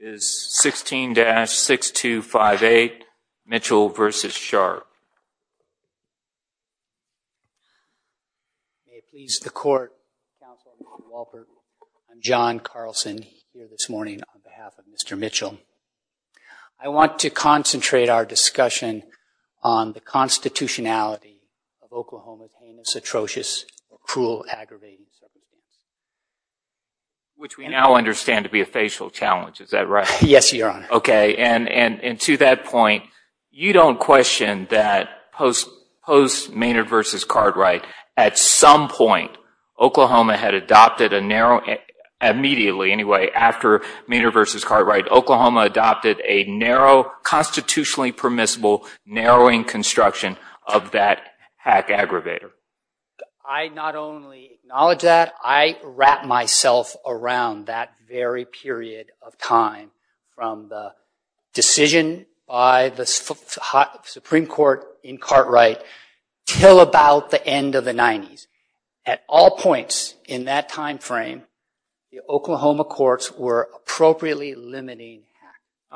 is 16-6258, Mitchell v. Sharp. May it please the Court, Councilman Walpert, I'm John Carlson here this morning on behalf of Mr. Mitchell. I want to concentrate our discussion on the constitutionality of Oklahoma's heinous, atrocious, cruel, aggravating... Which we now understand to be a facial challenge, is that right? Yes, Your Honor. Okay, and to that point, you don't question that post Maynard v. Cartwright, at some point, Oklahoma had adopted a narrow... immediately, anyway, after Maynard v. Cartwright, Oklahoma adopted a narrow, constitutionally permissible, narrowing construction of that hack aggravator. I not only acknowledge that, I wrapped myself around that very period of time, from the decision by the Supreme Court in Cartwright, till about the end of the 90s. At all points in that time frame, the Oklahoma courts were appropriately limiting...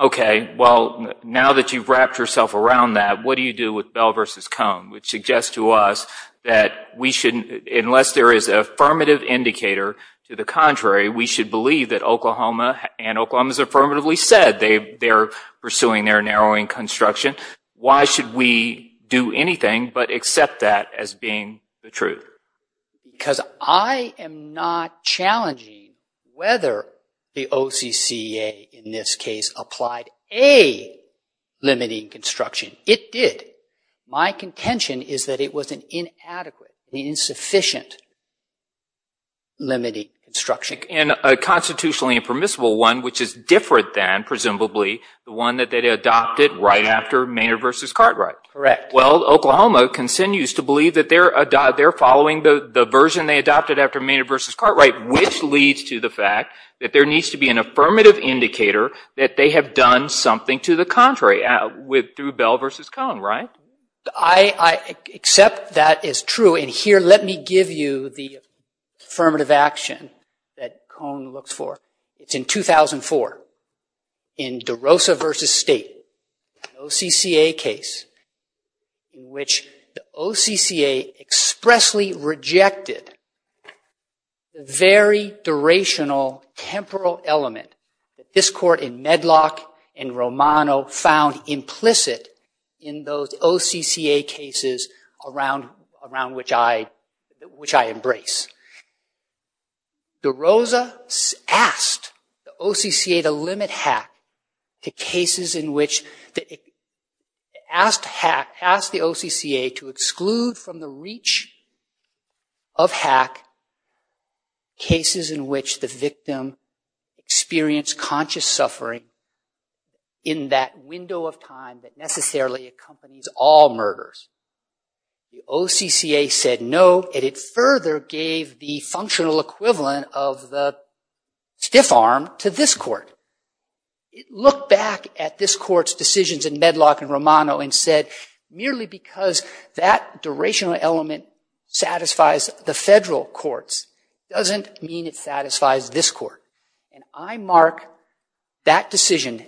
Okay, well, now that you've wrapped yourself around that, what do you do with Bell v. Cone? Which suggests to us that we shouldn't, unless there is an affirmative indicator, to the contrary, we should believe that Oklahoma, and Oklahoma's affirmatively said they're pursuing their narrowing construction. Why should we do anything but accept that as being the truth? Because I am not challenging whether the OCCA, in this case, applied a limiting construction. It did. My contention is that it was an inadequate, insufficient limiting construction. And a constitutionally permissible one, which is different than, presumably, the one that they adopted right after Maynard v. Cartwright. Correct. Well, Oklahoma continues to believe that they're following the version they adopted after Maynard v. Cartwright, which leads to the fact that there needs to be an affirmative indicator that they have done something to the contrary through Bell v. Cone, right? I accept that as true. And here, let me give you the affirmative action that Cone looks for. It's in 2004, in DeRosa v. State, an OCCA case, in which the OCCA expressly rejected the very durational temporal element that this court in Medlock and Romano found implicit in those OCCA cases around which I embrace. DeRosa asked the OCCA to limit HAC to cases in which it asked the OCCA to exclude from the reach of HAC cases in which the victim experienced conscious suffering in that window of time that necessarily accompanies all murders. The OCCA said no, and it further gave the functional equivalent of the stiff arm to this court. It looked back at this court's decisions in Medlock and Romano and said, merely because that durational element satisfies the federal courts doesn't mean it satisfies this court. And I mark that decision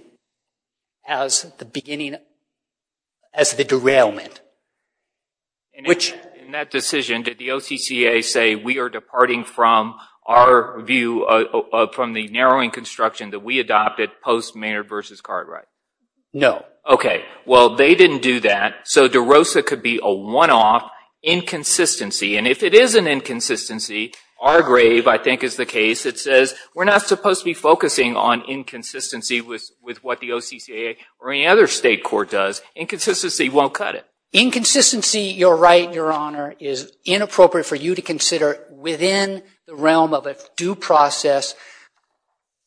as the beginning, as the derailment. In that decision, did the OCCA say we are departing from our view, from the narrowing construction that we adopted post Mayer v. Cartwright? No. Okay. Well, they didn't do that, so DeRosa could be a one-off inconsistency. And if it is an inconsistency, our grave, I think, is the case that says we're not supposed to be focusing on inconsistency with what the OCCA or any other state court does. Inconsistency won't cut it. Inconsistency, you're right, Your Honor, is inappropriate for you to consider within the realm of a due process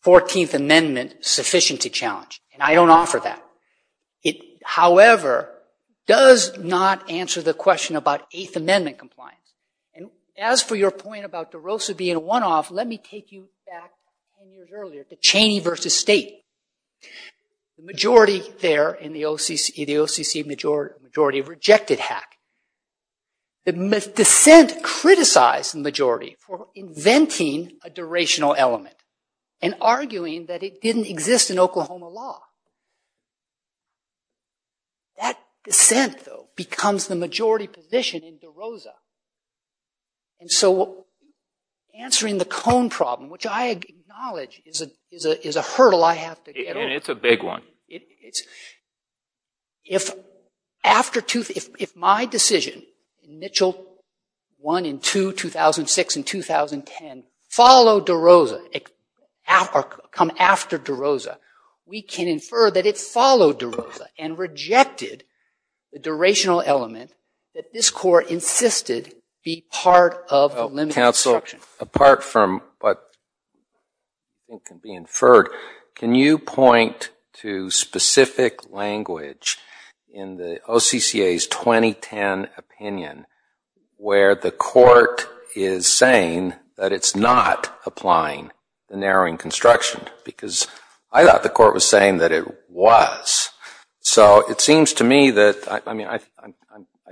14th Amendment sufficiency challenge. And I don't offer that. However, it does not answer the question about Eighth Amendment compliance. And as for your point about DeRosa being a one-off, let me take you back 10 years earlier to Cheney v. State. The majority there in the OCC, the OCC majority, rejected Hack. The dissent criticized the majority for inventing a durational element and arguing that it didn't exist in Oklahoma law. That dissent, though, becomes the majority position in DeRosa. And so answering the Cone problem, which I acknowledge is a hurdle I have to get over. And it's a big one. If my decision, Mitchell 1 and 2, 2006 and 2010, followed DeRosa or come after DeRosa, we can infer that it followed DeRosa and rejected the durational element that this Court insisted be part of limited construction. Apart from what can be inferred, can you point to specific language in the OCCA's 2010 opinion where the Court is saying that it's not applying the narrowing construction? Because I thought the Court was saying that it was. So it seems to me that, I mean, I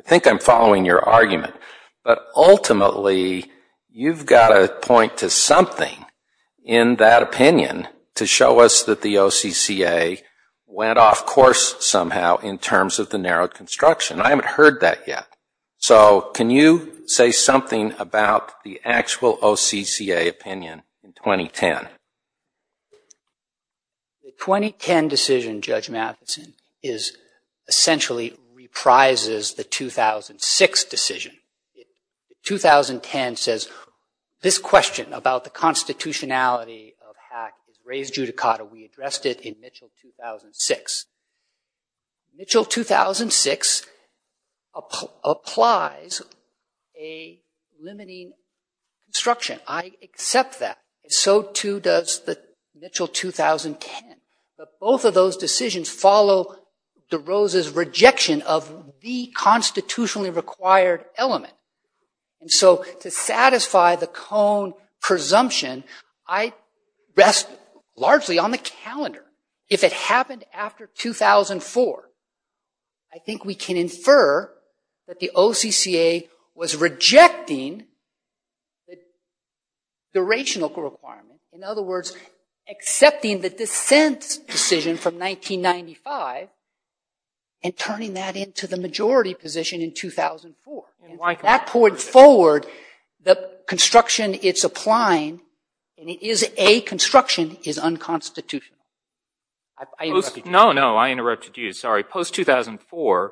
think I'm following your argument. But ultimately, you've got to point to something in that opinion to show us that the OCCA went off course somehow in terms of the narrowed construction. I haven't heard that yet. So can you say something about the actual OCCA opinion in 2010? The 2010 decision, Judge Matheson, essentially reprises the 2006 decision. 2010 says, this question about the constitutionality of HAC is raised judicata. We addressed it in Mitchell 2006. Mitchell 2006 applies a limiting construction. I accept that. So too does the Mitchell 2010. But both of those decisions follow DeRosa's rejection of the constitutionally required element. And so to satisfy the cone presumption, I rest largely on the calendar. If it happened after 2004, I think we can infer that the OCCA was rejecting the rational requirement. In other words, accepting the dissent decision from 1995 and turning that into the majority position in 2004. If that poured forward, the construction it's applying, and it is a construction, is unconstitutional. I interrupted you. No, no, I interrupted you. Sorry. Post-2004,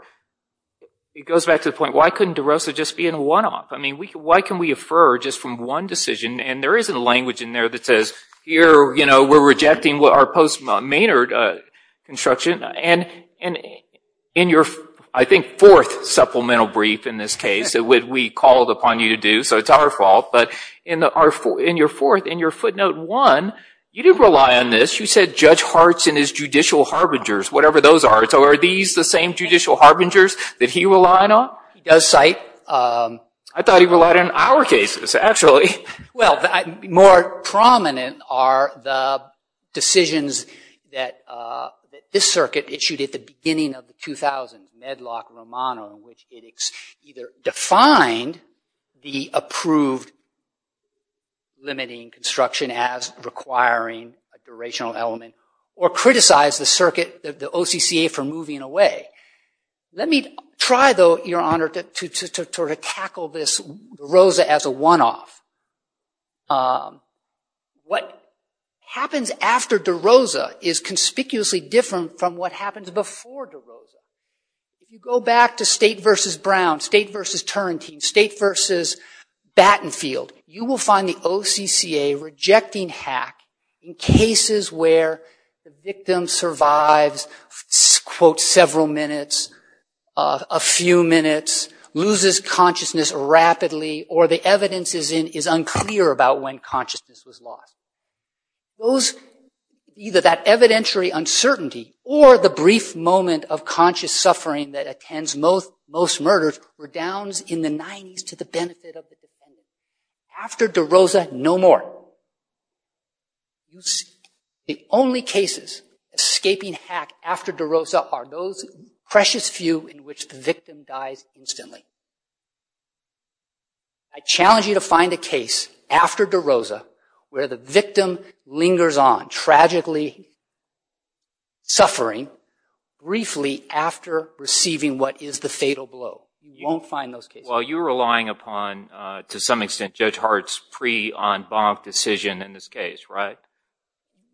it goes back to the point, why couldn't DeRosa just be in a one-off? I mean, why can we infer just from one decision? And there is a language in there that says, here, you know, we're rejecting our post-Maynard construction. And in your, I think, fourth supplemental brief in this case, we called upon you to do so. It's our fault. But in your fourth, in your footnote one, you didn't rely on this. You said Judge Hart's and his judicial harbingers, whatever those are. So are these the same judicial harbingers that he relied on? He does cite. I thought he relied on our cases, actually. Well, more prominent are the decisions that this circuit issued at the beginning of the 2000, Medlock-Romano, in which it either defined the approved limiting construction as requiring a durational element, or criticized the circuit, the OCCA, for moving away. Let me try, though, Your Honor, to sort of tackle this DeRosa as a one-off. What happens after DeRosa is conspicuously different from what happens before DeRosa. If you go back to State v. Brown, State v. Turrentine, State v. Battenfield, you will find the OCCA rejecting HAC in cases where the victim survives, quote, several minutes, a few minutes, loses consciousness rapidly, or the evidence is unclear about when consciousness was lost. Those, either that evidentiary uncertainty or the brief moment of conscious suffering that attends most murders were downs in the 90s to the benefit of the defendant. After DeRosa, no more. The only cases escaping HAC after DeRosa are those precious few in which the victim dies instantly. I challenge you to find a case after DeRosa where the victim lingers on, tragically suffering, briefly after receiving what is the fatal blow. You won't find those cases. Well, you're relying upon, to some extent, Judge Hart's pre-en banc decision in this case, right?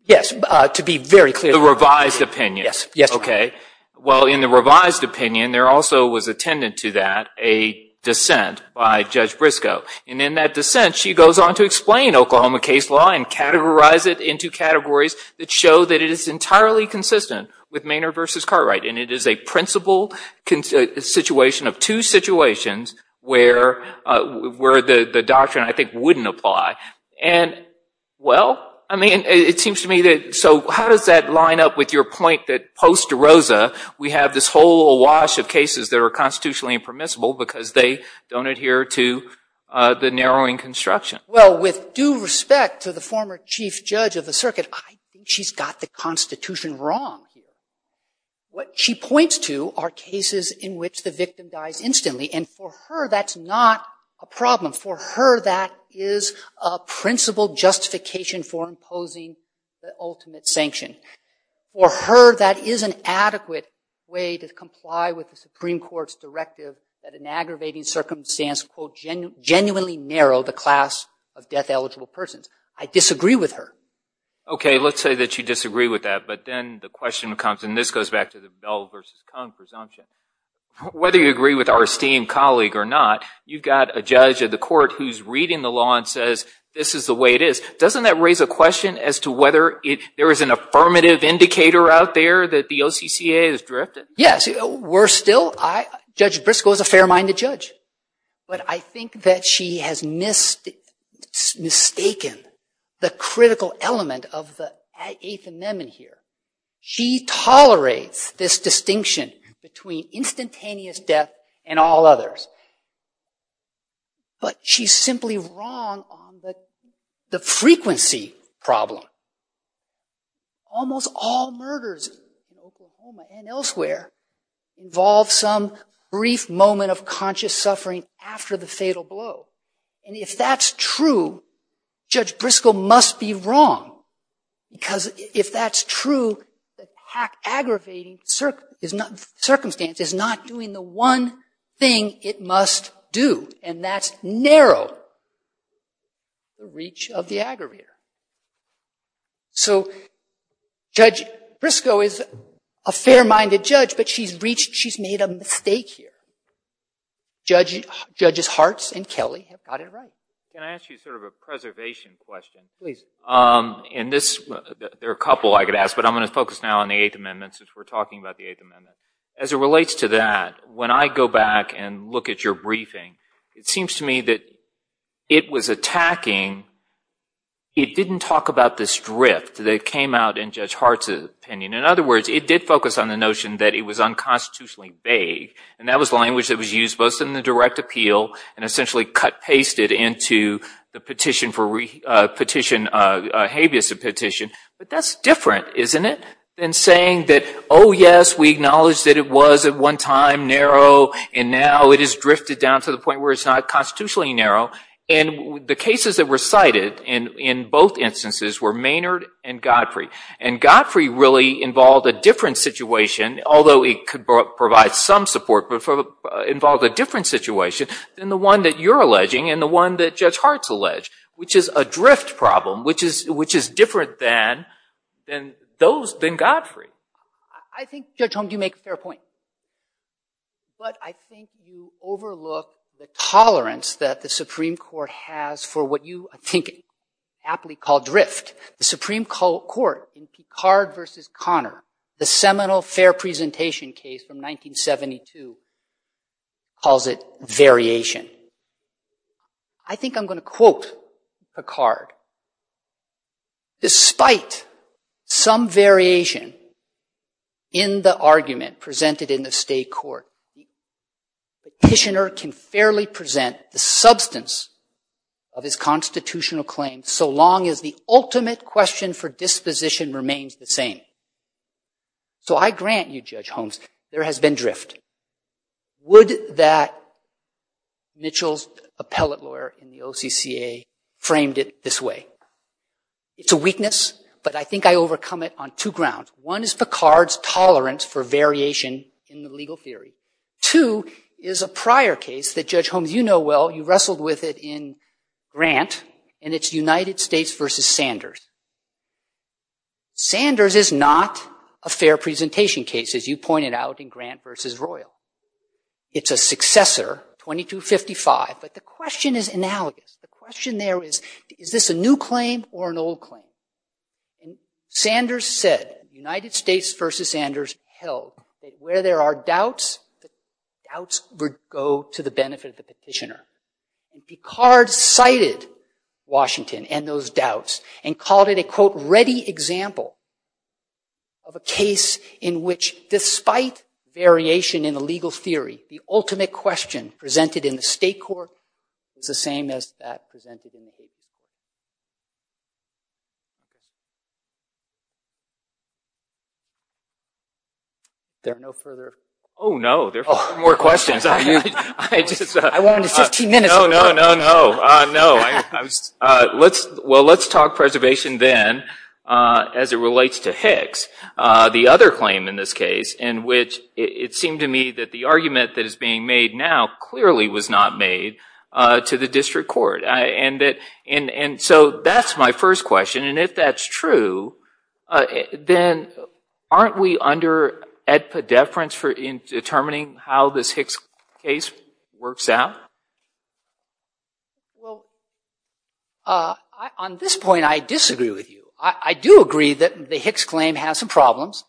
Yes, to be very clear. The revised opinion. Yes, Your Honor. Okay. Well, in the revised opinion, there also was attendant to that a dissent by Judge Briscoe. And in that dissent, she goes on to explain Oklahoma case law and categorize it into categories that show that it is entirely consistent with Maynard v. Cartwright. And it is a principle situation of two situations where the doctrine, I think, wouldn't apply. And, well, I mean, it seems to me that, so how does that line up with your point that post DeRosa, we have this whole awash of cases that are constitutionally impermissible because they don't adhere to the narrowing construction? Well, with due respect to the former chief judge of the circuit, I think she's got the constitution wrong here. What she points to are cases in which the victim dies instantly. And for her, that's not a problem. For her, that is a principle justification for imposing the ultimate sanction. For her, that is an adequate way to comply with the Supreme Court's directive that an aggravating circumstance, quote, genuinely narrow the class of death-eligible persons. I disagree with her. Okay. Let's say that you disagree with that. But then the question comes, and this goes back to the Bell v. Kong presumption. Whether you agree with our esteemed colleague or not, you've got a judge of the court who's reading the law and says this is the way it is. Doesn't that raise a question as to whether there is an affirmative indicator out there that the OCCA has drifted? Yes. Worse still, Judge Briscoe is a fair-minded judge. But I think that she has mistaken the critical element of the Eighth Amendment here. She tolerates this distinction between instantaneous death and all others. But she's simply wrong on the frequency problem. Almost all murders in Oklahoma and elsewhere involve some brief moment of conscious suffering after the fatal blow. And if that's true, Judge Briscoe must be wrong, because if that's true, the aggravating circumstance is not doing the one thing it must do, and that's narrow the reach of the aggravator. So Judge Briscoe is a fair-minded judge, but she's made a mistake here. Judges Hartz and Kelly have got it right. Can I ask you sort of a preservation question? Please. There are a couple I could ask, but I'm going to focus now on the Eighth Amendment since we're talking about the Eighth Amendment. As it relates to that, when I go back and look at your briefing, it seems to me that it was attacking, it didn't talk about this drift that came out in Judge Hartz's opinion. In other words, it did focus on the notion that it was unconstitutionally vague, and that was language that was used both in the direct appeal and essentially cut-pasted into the habeas petition. But that's different, isn't it, than saying that, oh, yes, we acknowledge that it was at one time narrow, and now it has drifted down to the point where it's not constitutionally narrow. And the cases that were cited in both instances were Maynard and Godfrey. And Godfrey really involved a different situation, although it could provide some support, but involved a different situation than the one that you're alleging and the one that Judge Hartz alleged, which is a drift problem, which is different than Godfrey. I think, Judge Holm, you make a fair point. But I think you overlook the tolerance that the Supreme Court has for what you, I think, aptly call drift. The Supreme Court in Picard v. Connor, the seminal fair presentation case from 1972, calls it variation. I think I'm going to quote Picard. Despite some variation in the argument presented in the state court, the petitioner can fairly present the substance of his constitutional claim so long as the ultimate question for disposition remains the same. So I grant you, Judge Holm, there has been drift. Would that Mitchell's appellate lawyer in the OCCA framed it this way? It's a weakness, but I think I overcome it on two grounds. One is Picard's tolerance for variation in the legal theory. Two is a prior case that, Judge Holm, you know well, you wrestled with it in Grant, and it's United States v. Sanders. Sanders is not a fair presentation case, as you pointed out, in Grant v. Royal. It's a successor, 2255, but the question is analogous. The question there is, is this a new claim or an old claim? Sanders said, United States v. Sanders held that where there are doubts, the doubts would go to the benefit of the petitioner. And Picard cited Washington and those doubts and called it a, quote, ready example of a case in which, despite variation in the legal theory, the ultimate question presented in the state court is the same as that presented in the legal theory. There are no further? Oh, no, there are four more questions. I wanted 15 minutes. No, no, no, no. Well, let's talk preservation then as it relates to Hicks. The other claim in this case in which it seemed to me that the argument that is being made now clearly was not made to the district court. And so that's my first question. And if that's true, then aren't we under deference in determining how this Hicks case works out? On this point, I disagree with you. I do agree that the Hicks claim has some problems.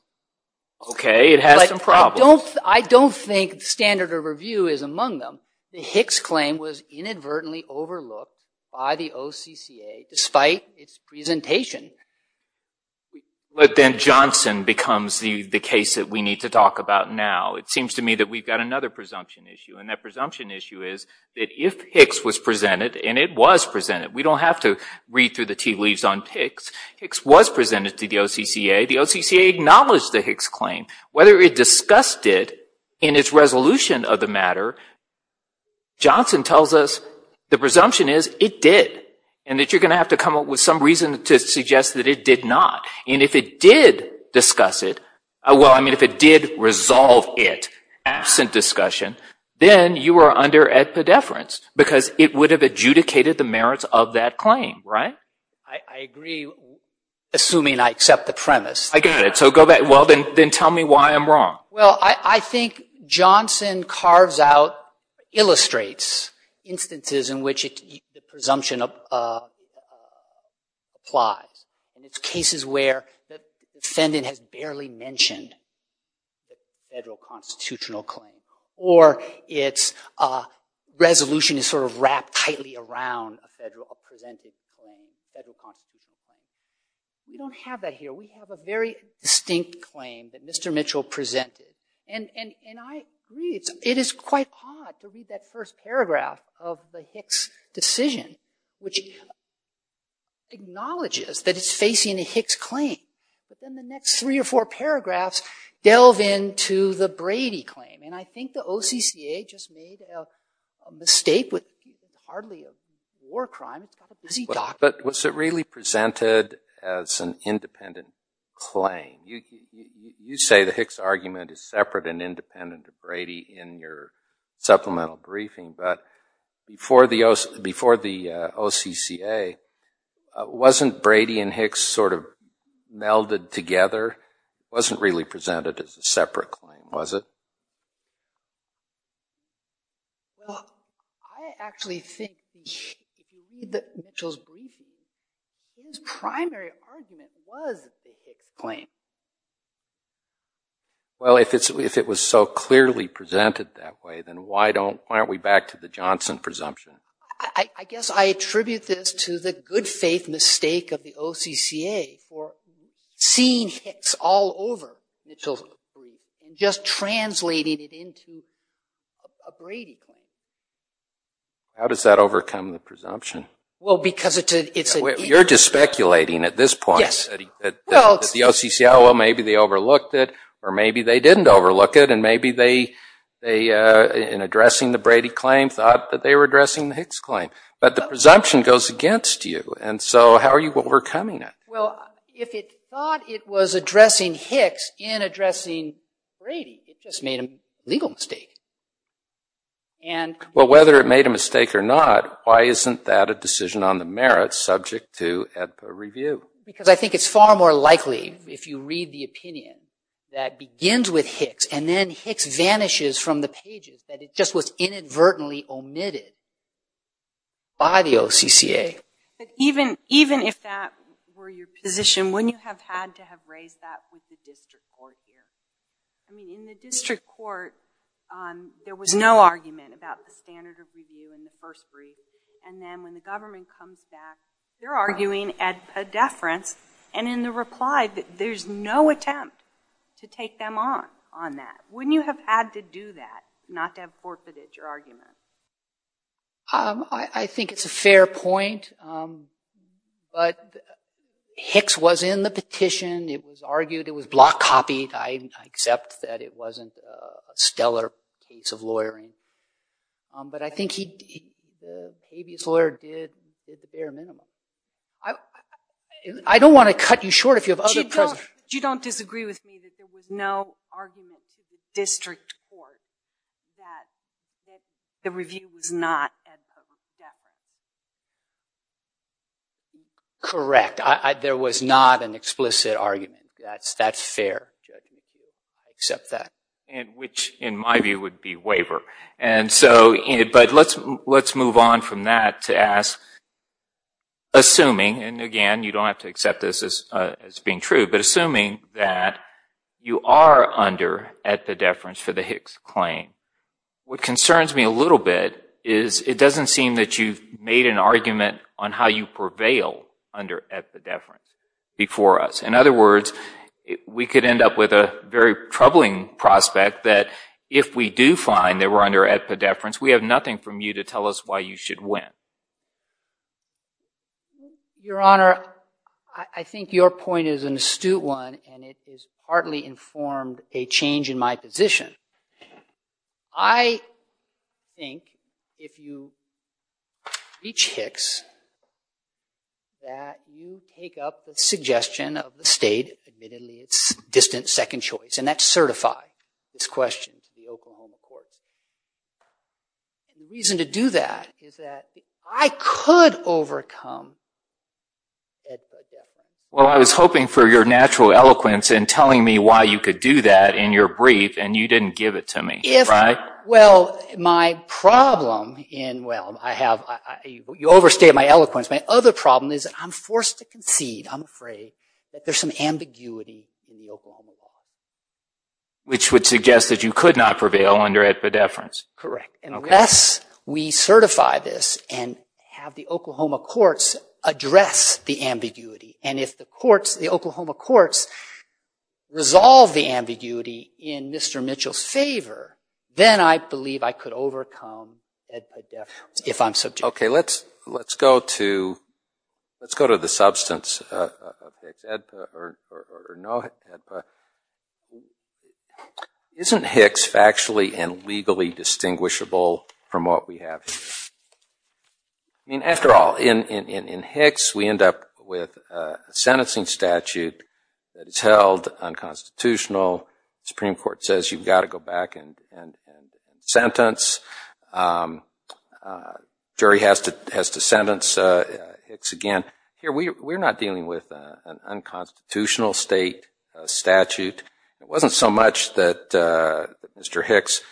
Okay, it has some problems. I don't think standard of review is among them. The Hicks claim was inadvertently overlooked by the OCCA despite its presentation. But then Johnson becomes the case that we need to talk about now. It seems to me that we've got another presumption issue. And that presumption issue is that if Hicks was presented, and it was presented, we don't have to read through the tea leaves on Hicks. Hicks was presented to the OCCA. The OCCA acknowledged the Hicks claim. Whether it discussed it in its resolution of the matter, Johnson tells us the presumption is it did. And that you're going to have to come up with some reason to suggest that it did not. And if it did discuss it, well, I mean, if it did resolve it, absent discussion, then you are under a deference because it would have adjudicated the merits of that claim, right? I agree, assuming I accept the premise. I got it. So go back. Well, then tell me why I'm wrong. Well, I think Johnson carves out, illustrates instances in which the presumption applies. And it's cases where the defendant has barely mentioned the federal constitutional claim, or its resolution is sort of wrapped tightly around a federal presented claim, a federal constitutional claim. We don't have that here. We have a very distinct claim that Mr. Mitchell presented. And I agree, it is quite odd to read that first paragraph of the Hicks decision, which acknowledges that it's facing a Hicks claim. But then the next three or four paragraphs delve into the Brady claim. And I think the OCCA just made a mistake with hardly a war crime. It's got a busy document. But was it really presented as an independent claim? You say the Hicks argument is separate and independent of Brady in your supplemental briefing. But before the OCCA, wasn't Brady and Hicks sort of melded together? It wasn't really presented as a separate claim, was it? Well, I actually think if you read Mitchell's briefing, his primary argument was that it's a Hicks claim. Well, if it was so clearly presented that way, then why don't we back to the Johnson presumption? I guess I attribute this to the good faith mistake of the OCCA for seeing Hicks all over Mitchell's brief and just translating it into a Brady claim. How does that overcome the presumption? You're just speculating at this point that the OCCA, well, maybe they overlooked it, or maybe they didn't overlook it, and maybe in addressing the Brady claim, thought that they were addressing the Hicks claim. But the presumption goes against you. And so how are you overcoming it? Well, if it thought it was addressing Hicks in addressing Brady, it just made a legal mistake. Well, whether it made a mistake or not, why isn't that a decision on the merits subject to AEDPA review? Because I think it's far more likely, if you read the opinion, that begins with Hicks and then Hicks vanishes from the pages, that it just was inadvertently omitted by the OCCA. But even if that were your position, wouldn't you have had to have raised that with the district court here? I mean, in the district court, there was no argument about the standard of review in the first brief. And then when the government comes back, they're arguing at a deference. And in the reply, there's no attempt to take them on on that. Wouldn't you have had to do that, not to have forfeited your argument? I think it's a fair point. But Hicks was in the petition. It was argued. It was block copied. I accept that it wasn't a stellar case of lawyering. But I think the habeas lawyer did the bare minimum. I don't want to cut you short if you have other questions. You don't disagree with me that there was no argument to the district court that the review was not at a deference? Correct. There was not an explicit argument. That's fair. I accept that. Which, in my view, would be waiver. But let's move on from that to ask, assuming, and again, you don't have to accept this as being true, but assuming that you are under at the deference for the Hicks claim, what concerns me a little bit is it doesn't seem that you've made an argument on how you prevail under at the deference before us. In other words, we could end up with a very troubling prospect that if we do find that we're under at the deference, we have nothing from you to tell us why you should win. Your Honor, I think your point is an astute one, and it has partly informed a change in my position. I think if you reach Hicks that you take up the suggestion of the state, admittedly it's distant second choice, and that's certified, this question to the Oklahoma courts. The reason to do that is that I could overcome at the deference. Well, I was hoping for your natural eloquence in telling me why you could do that in your brief, and you didn't give it to me, right? Well, my problem in, well, you overstated my eloquence. My other problem is I'm forced to concede, I'm afraid, that there's some ambiguity in the Oklahoma law. Which would suggest that you could not prevail under at the deference. Correct. Unless we certify this and have the Oklahoma courts address the ambiguity, and if the courts, the Oklahoma courts, resolve the ambiguity in Mr. Mitchell's favor, then I believe I could overcome at the deference if I'm subject. Okay, let's go to the substance of Hicks. Isn't Hicks factually and legally distinguishable from what we have here? I mean, after all, in Hicks we end up with a sentencing statute that is held unconstitutional. The Supreme Court says you've got to go back and sentence. Jury has to sentence Hicks again. Here we're not dealing with an unconstitutional state statute. It wasn't so much that, Mr. Hicks, it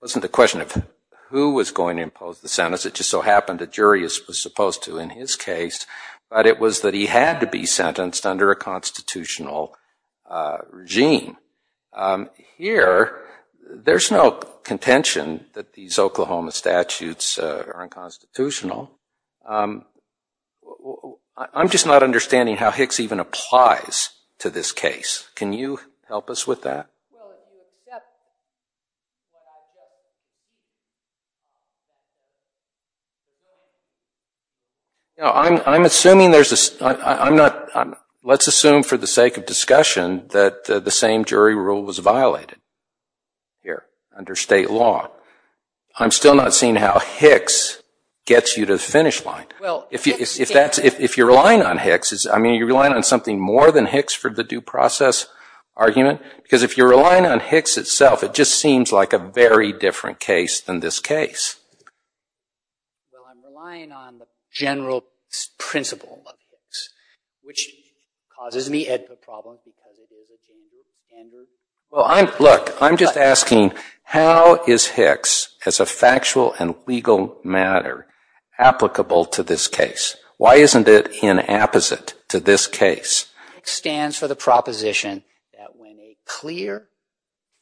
wasn't a question of who was going to impose the sentence, it just so happened the jury was supposed to in his case, but it was that he had to be sentenced under a constitutional regime. Here, there's no contention that these Oklahoma statutes are unconstitutional. I'm just not understanding how Hicks even applies to this case. Can you help us with that? No, I'm assuming there's a, I'm not, let's assume for the sake of discussion that the same jury rule was violated here under state law. I'm still not seeing how Hicks gets you to the finish line. If you're relying on Hicks, I mean, you're relying on something more than Hicks for the due process argument? Because if you're relying on Hicks itself, it just seems like a very different case than this case. Well, I'm relying on the general principle of Hicks, which causes me a problem. Look, I'm just asking, how is Hicks, as a factual and legal matter, applicable to this case? Why isn't it inapposite to this case? Hicks stands for the proposition that when a clear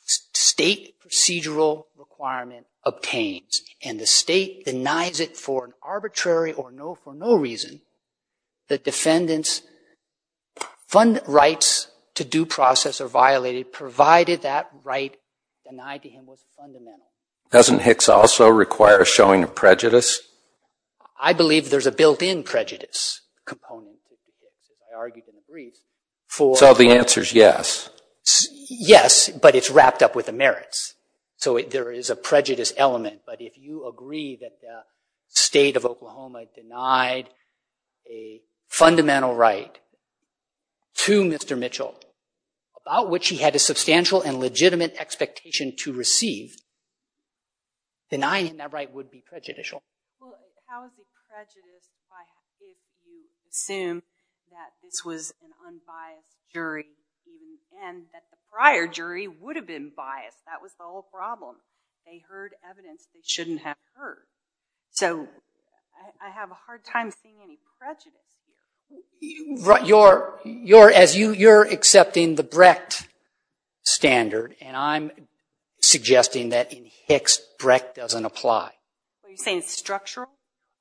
state procedural requirement obtains and the state denies it for an arbitrary or for no reason, the defendant's fund rights to due process are violated, provided that right denied to him was fundamental. Doesn't Hicks also require a showing of prejudice? I believe there's a built-in prejudice component to Hicks, and I argue that Hicks agrees. So the answer is yes. Yes, but it's wrapped up with the merits. So there is a prejudice element. But if you agree that the state of Oklahoma denied a fundamental right to Mr. Mitchell, about which he had a substantial and legitimate expectation to receive, denying that right would be prejudicial. Well, how is it prejudiced if I did assume that this was an unbiased jury and that the prior jury would have been biased? That was the whole problem. They heard evidence they shouldn't have heard. So I have a hard time seeing any prejudice. You're accepting the Brecht standard, and I'm suggesting that in Hicks, Brecht doesn't apply. Are you saying it's structural?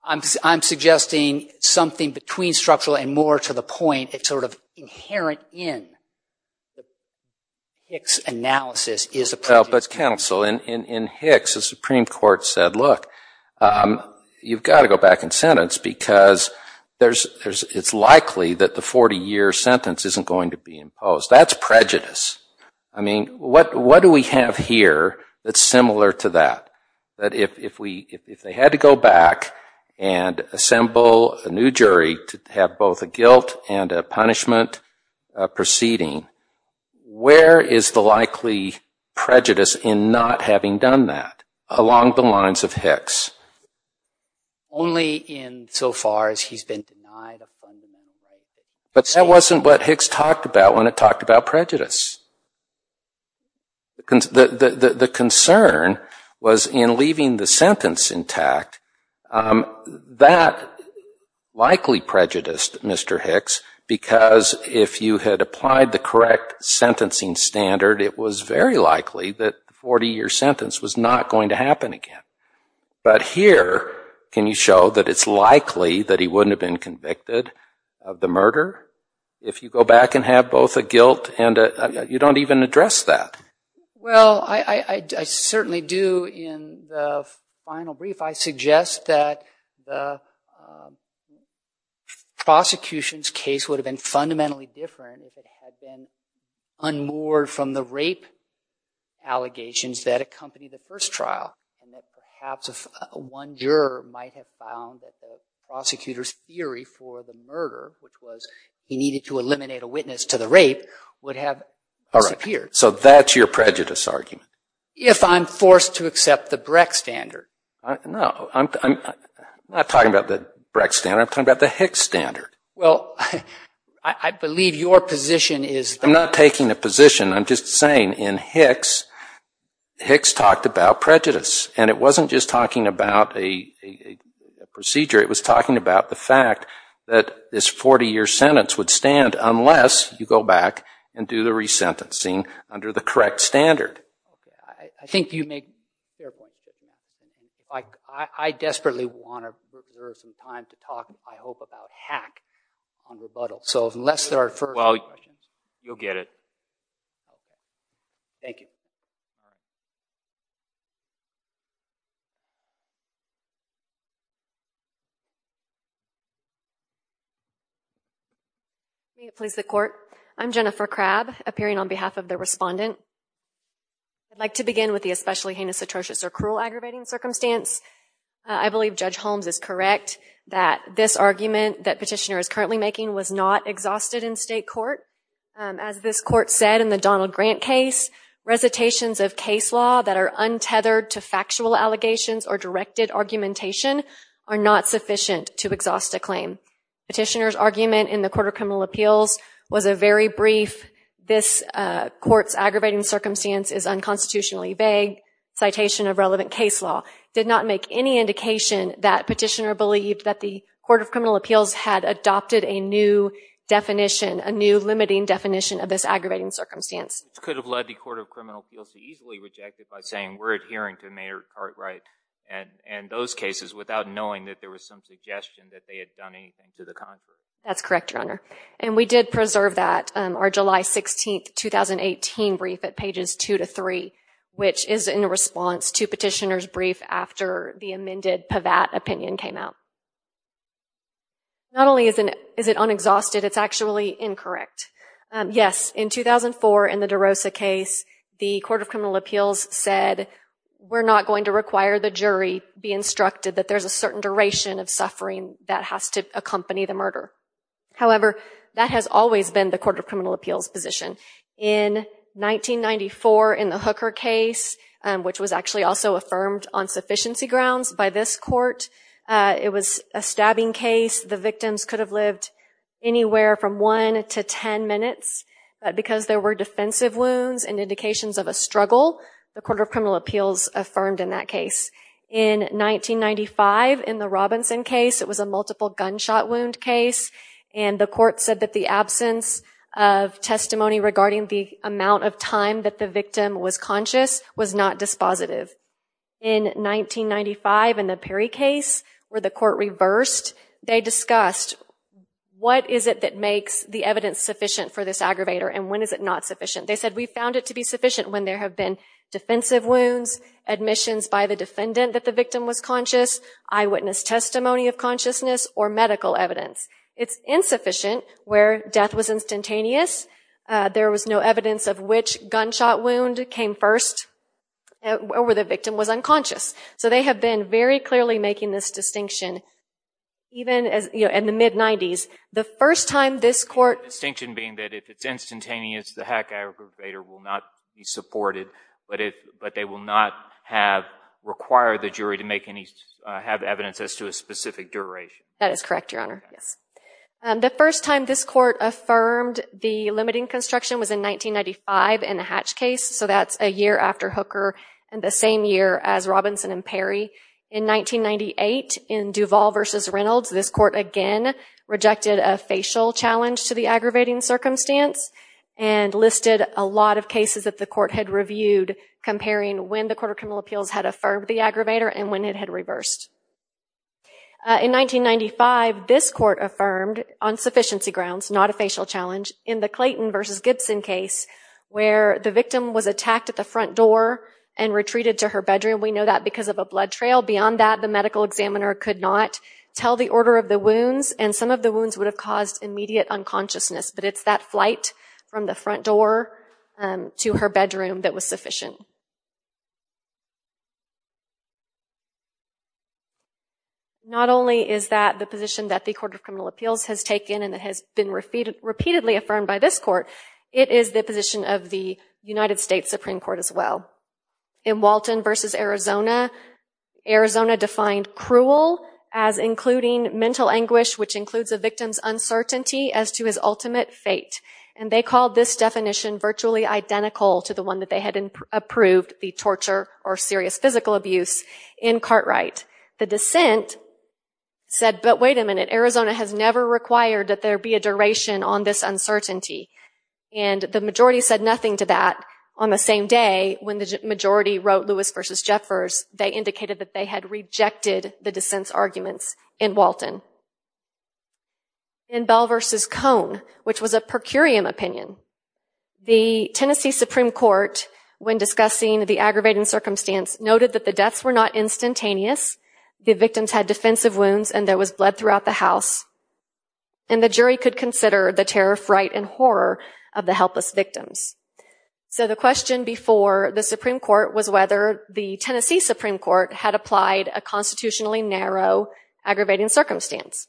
I'm suggesting something between structural and more to the point. It's sort of inherent in Hicks' analysis is a prejudice. But, counsel, in Hicks, the Supreme Court said, look, you've got to go back in sentence because it's likely that the 40-year sentence isn't going to be imposed. That's prejudice. I mean, what do we have here that's similar to that? That if they had to go back and assemble a new jury to have both a guilt and a punishment proceeding, where is the likely prejudice in not having done that along the lines of Hicks? Only in so far as he's been denied a fundamental right. But that wasn't what Hicks talked about when it talked about prejudice. The concern was in leaving the sentence intact. That likely prejudiced Mr. Hicks, because if you had applied the correct sentencing standard, it was very likely that the 40-year sentence was not going to happen again. But here, can you show that it's likely that he wouldn't have been convicted of the murder if you go back and have both a guilt and a you don't even address that? Well, I certainly do. In the final brief, I suggest that the prosecution's case would have been fundamentally different if it had been unmoored from the rape allegations that accompanied the first trial. And that perhaps if one juror might have found that the prosecutor's theory for the murder, which was he needed to eliminate a witness to the rape, would have disappeared. So that's your prejudice argument? If I'm forced to accept the Brecht standard. No, I'm not talking about the Brecht standard. I'm talking about the Hicks standard. Well, I believe your position is... I'm not taking a position. I'm just saying in Hicks, Hicks talked about prejudice. And it wasn't just talking about a procedure. It was talking about the fact that this 40-year sentence would stand unless you go back and do the resentencing under the correct standard. I think you make a fair point. I desperately want to reserve some time to talk, I hope, about hack on rebuttal. So unless there are further questions... Well, you'll get it. Thank you. Please, the court. I'm Jennifer Crabb, appearing on behalf of the respondent. I'd like to begin with the especially heinous, atrocious, or cruel aggravating circumstance. I believe Judge Holmes is correct that this argument that petitioner is currently making was not exhausted in state court. As this court said in the Donald Grant case, recitations of case law that are untethered to factual allegations or directed argumentation are not sufficient to exhaust a claim. Petitioner's argument in the Court of Criminal Appeals was a very brief, this court's aggravating circumstance is unconstitutionally vague, citation of relevant case law, did not make any indication that petitioner believed that the Court of Criminal Appeals had adopted a new definition, a new limiting definition of this aggravating circumstance. It could have led the Court of Criminal Appeals to easily reject it by saying we're adhering to Mayer Cartwright and those cases without knowing that there was some suggestion that they had done anything to the contrary. That's correct, Your Honor. And we did preserve that, our July 16, 2018 brief at pages two to three, which is in response to petitioner's brief after the amended Pavatt opinion came out. Not only is it unexhausted, it's actually incorrect. Yes, in 2004 in the DeRosa case, the Court of Criminal Appeals said we're not going to require the jury be instructed that there's a certain duration of suffering that has to accompany the murder. However, that has always been the Court of Criminal Appeals position. In 1994 in the Hooker case, which was actually also affirmed on sufficiency grounds by this court, it was a stabbing case. The victims could have lived anywhere from one to 10 minutes, but because there were defensive wounds and indications of a struggle, the Court of Criminal Appeals affirmed in that case. In 1995 in the Robinson case, it was a multiple gunshot wound case, and the court said that the absence of testimony regarding the amount of time that the victim was conscious was not dispositive. In 1995 in the Perry case, where the court reversed, they discussed what is it that makes the evidence sufficient for this aggravator and when is it not sufficient. They said we found it to be sufficient when there have been defensive wounds, admissions by the defendant that the victim was conscious, eyewitness testimony of consciousness, or medical evidence. It's insufficient where death was instantaneous, there was no evidence of which gunshot wound came first, or where the victim was unconscious. So they have been very clearly making this distinction, even in the mid-90s. The first time this court... The distinction being that if it's instantaneous, the hack aggravator will not be supported, but they will not require the jury to have evidence as to a specific duration. That is correct, Your Honor. The first time this court affirmed the limiting construction was in 1995 in the Hatch case, so that's a year after Hooker, and the same year as Robinson and Perry. In 1998, in Duvall v. Reynolds, this court again rejected a facial challenge to the aggravating circumstance and listed a lot of cases that the court had reviewed, comparing when the Court of Criminal Appeals had affirmed the aggravator and when it had reversed. In 1995, this court affirmed, on sufficiency grounds, not a facial challenge, in the Clayton v. Gibson case, where the victim was attacked at the front door and retreated to her bedroom. We know that because of a blood trail. Beyond that, the medical examiner could not tell the order of the wounds, and some of the wounds would have caused immediate unconsciousness. But it's that flight from the front door to her bedroom that was sufficient. Not only is that the position that the Court of Criminal Appeals has taken and that has been repeatedly affirmed by this court, it is the position of the United States Supreme Court as well. In Walton v. Arizona, Arizona defined cruel as including mental anguish, which includes a victim's uncertainty as to his ultimate fate. And they called this definition virtually identical to the one that they had approved, the torture or serious physical abuse in Cartwright. The dissent said, but wait a minute, Arizona has never required that there be a duration on this uncertainty. And the majority said nothing to that. On the same day, when the majority wrote Lewis v. Jeffers, they indicated that they had rejected the dissent's arguments in Walton. In Bell v. Cone, which was a per curiam opinion, the Tennessee Supreme Court, when discussing the aggravating circumstance, noted that the deaths were not instantaneous, and the jury could consider the terror, fright, and horror of the helpless victims. So the question before the Supreme Court was whether the Tennessee Supreme Court had applied a constitutionally narrow aggravating circumstance.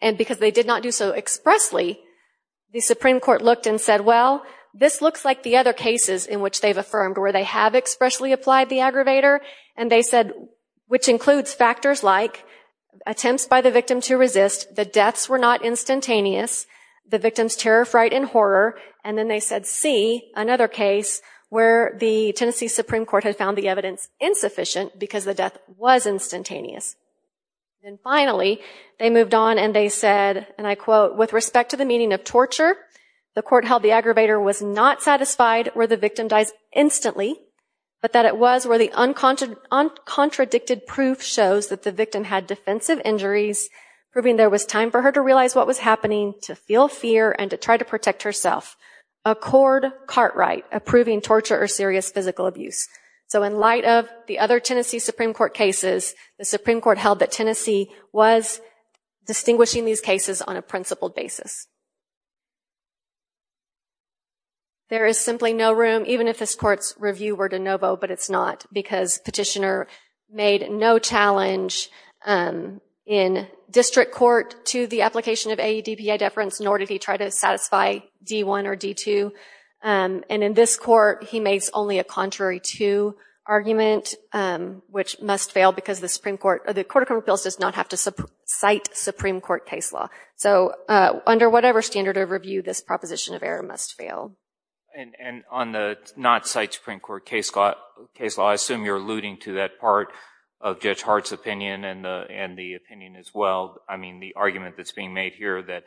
And because they did not do so expressly, the Supreme Court looked and said, well, this looks like the other cases in which they've affirmed where they have expressly applied the aggravator. And they said, which includes factors like attempts by the victim to resist, the deaths were not instantaneous, the victims' terror, fright, and horror, and then they said C, another case where the Tennessee Supreme Court had found the evidence insufficient because the death was instantaneous. And finally, they moved on and they said, and I quote, with respect to the meaning of torture, the court held the aggravator was not satisfied where the victim dies instantly, but that it was where the uncontradicted proof shows that the victim had defensive injuries, proving there was time for her to realize what was happening, to feel fear, and to try to protect herself. Accord, Cartwright, approving torture or serious physical abuse. So in light of the other Tennessee Supreme Court cases, the Supreme Court held that Tennessee was distinguishing these cases on a principled basis. There is simply no room, even if this court's review were de novo, but it's not, because Petitioner made no challenge in district court to the application of AEDPA deference, nor did he try to satisfy D1 or D2. And in this court, he makes only a contrary to argument, which must fail because the Supreme Court, the Court of Criminal Appeals does not have to cite Supreme Court case law. So under whatever standard of review, this proposition of error must fail. And on the not cite Supreme Court case law, I assume you're alluding to that part of Judge Hart's opinion and the opinion as well, I mean, the argument that's being made here that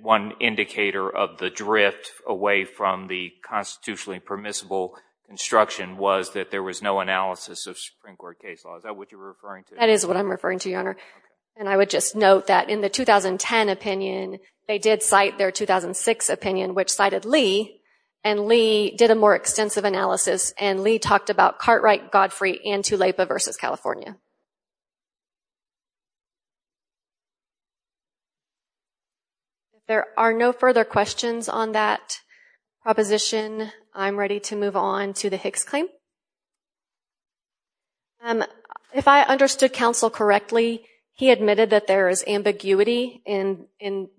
one indicator of the drift away from the constitutionally permissible instruction was that there was no analysis of Supreme Court case law. Is that what you're referring to? That is what I'm referring to, Your Honor. And I would just note that in the 2010 opinion, they did cite their 2006 opinion, which cited Lee, and Lee did a more extensive analysis, and Lee talked about Cartwright, Godfrey, and Tulapa versus California. If there are no further questions on that proposition, I'm ready to move on to the Hicks claim. If I understood counsel correctly, he admitted that there is ambiguity in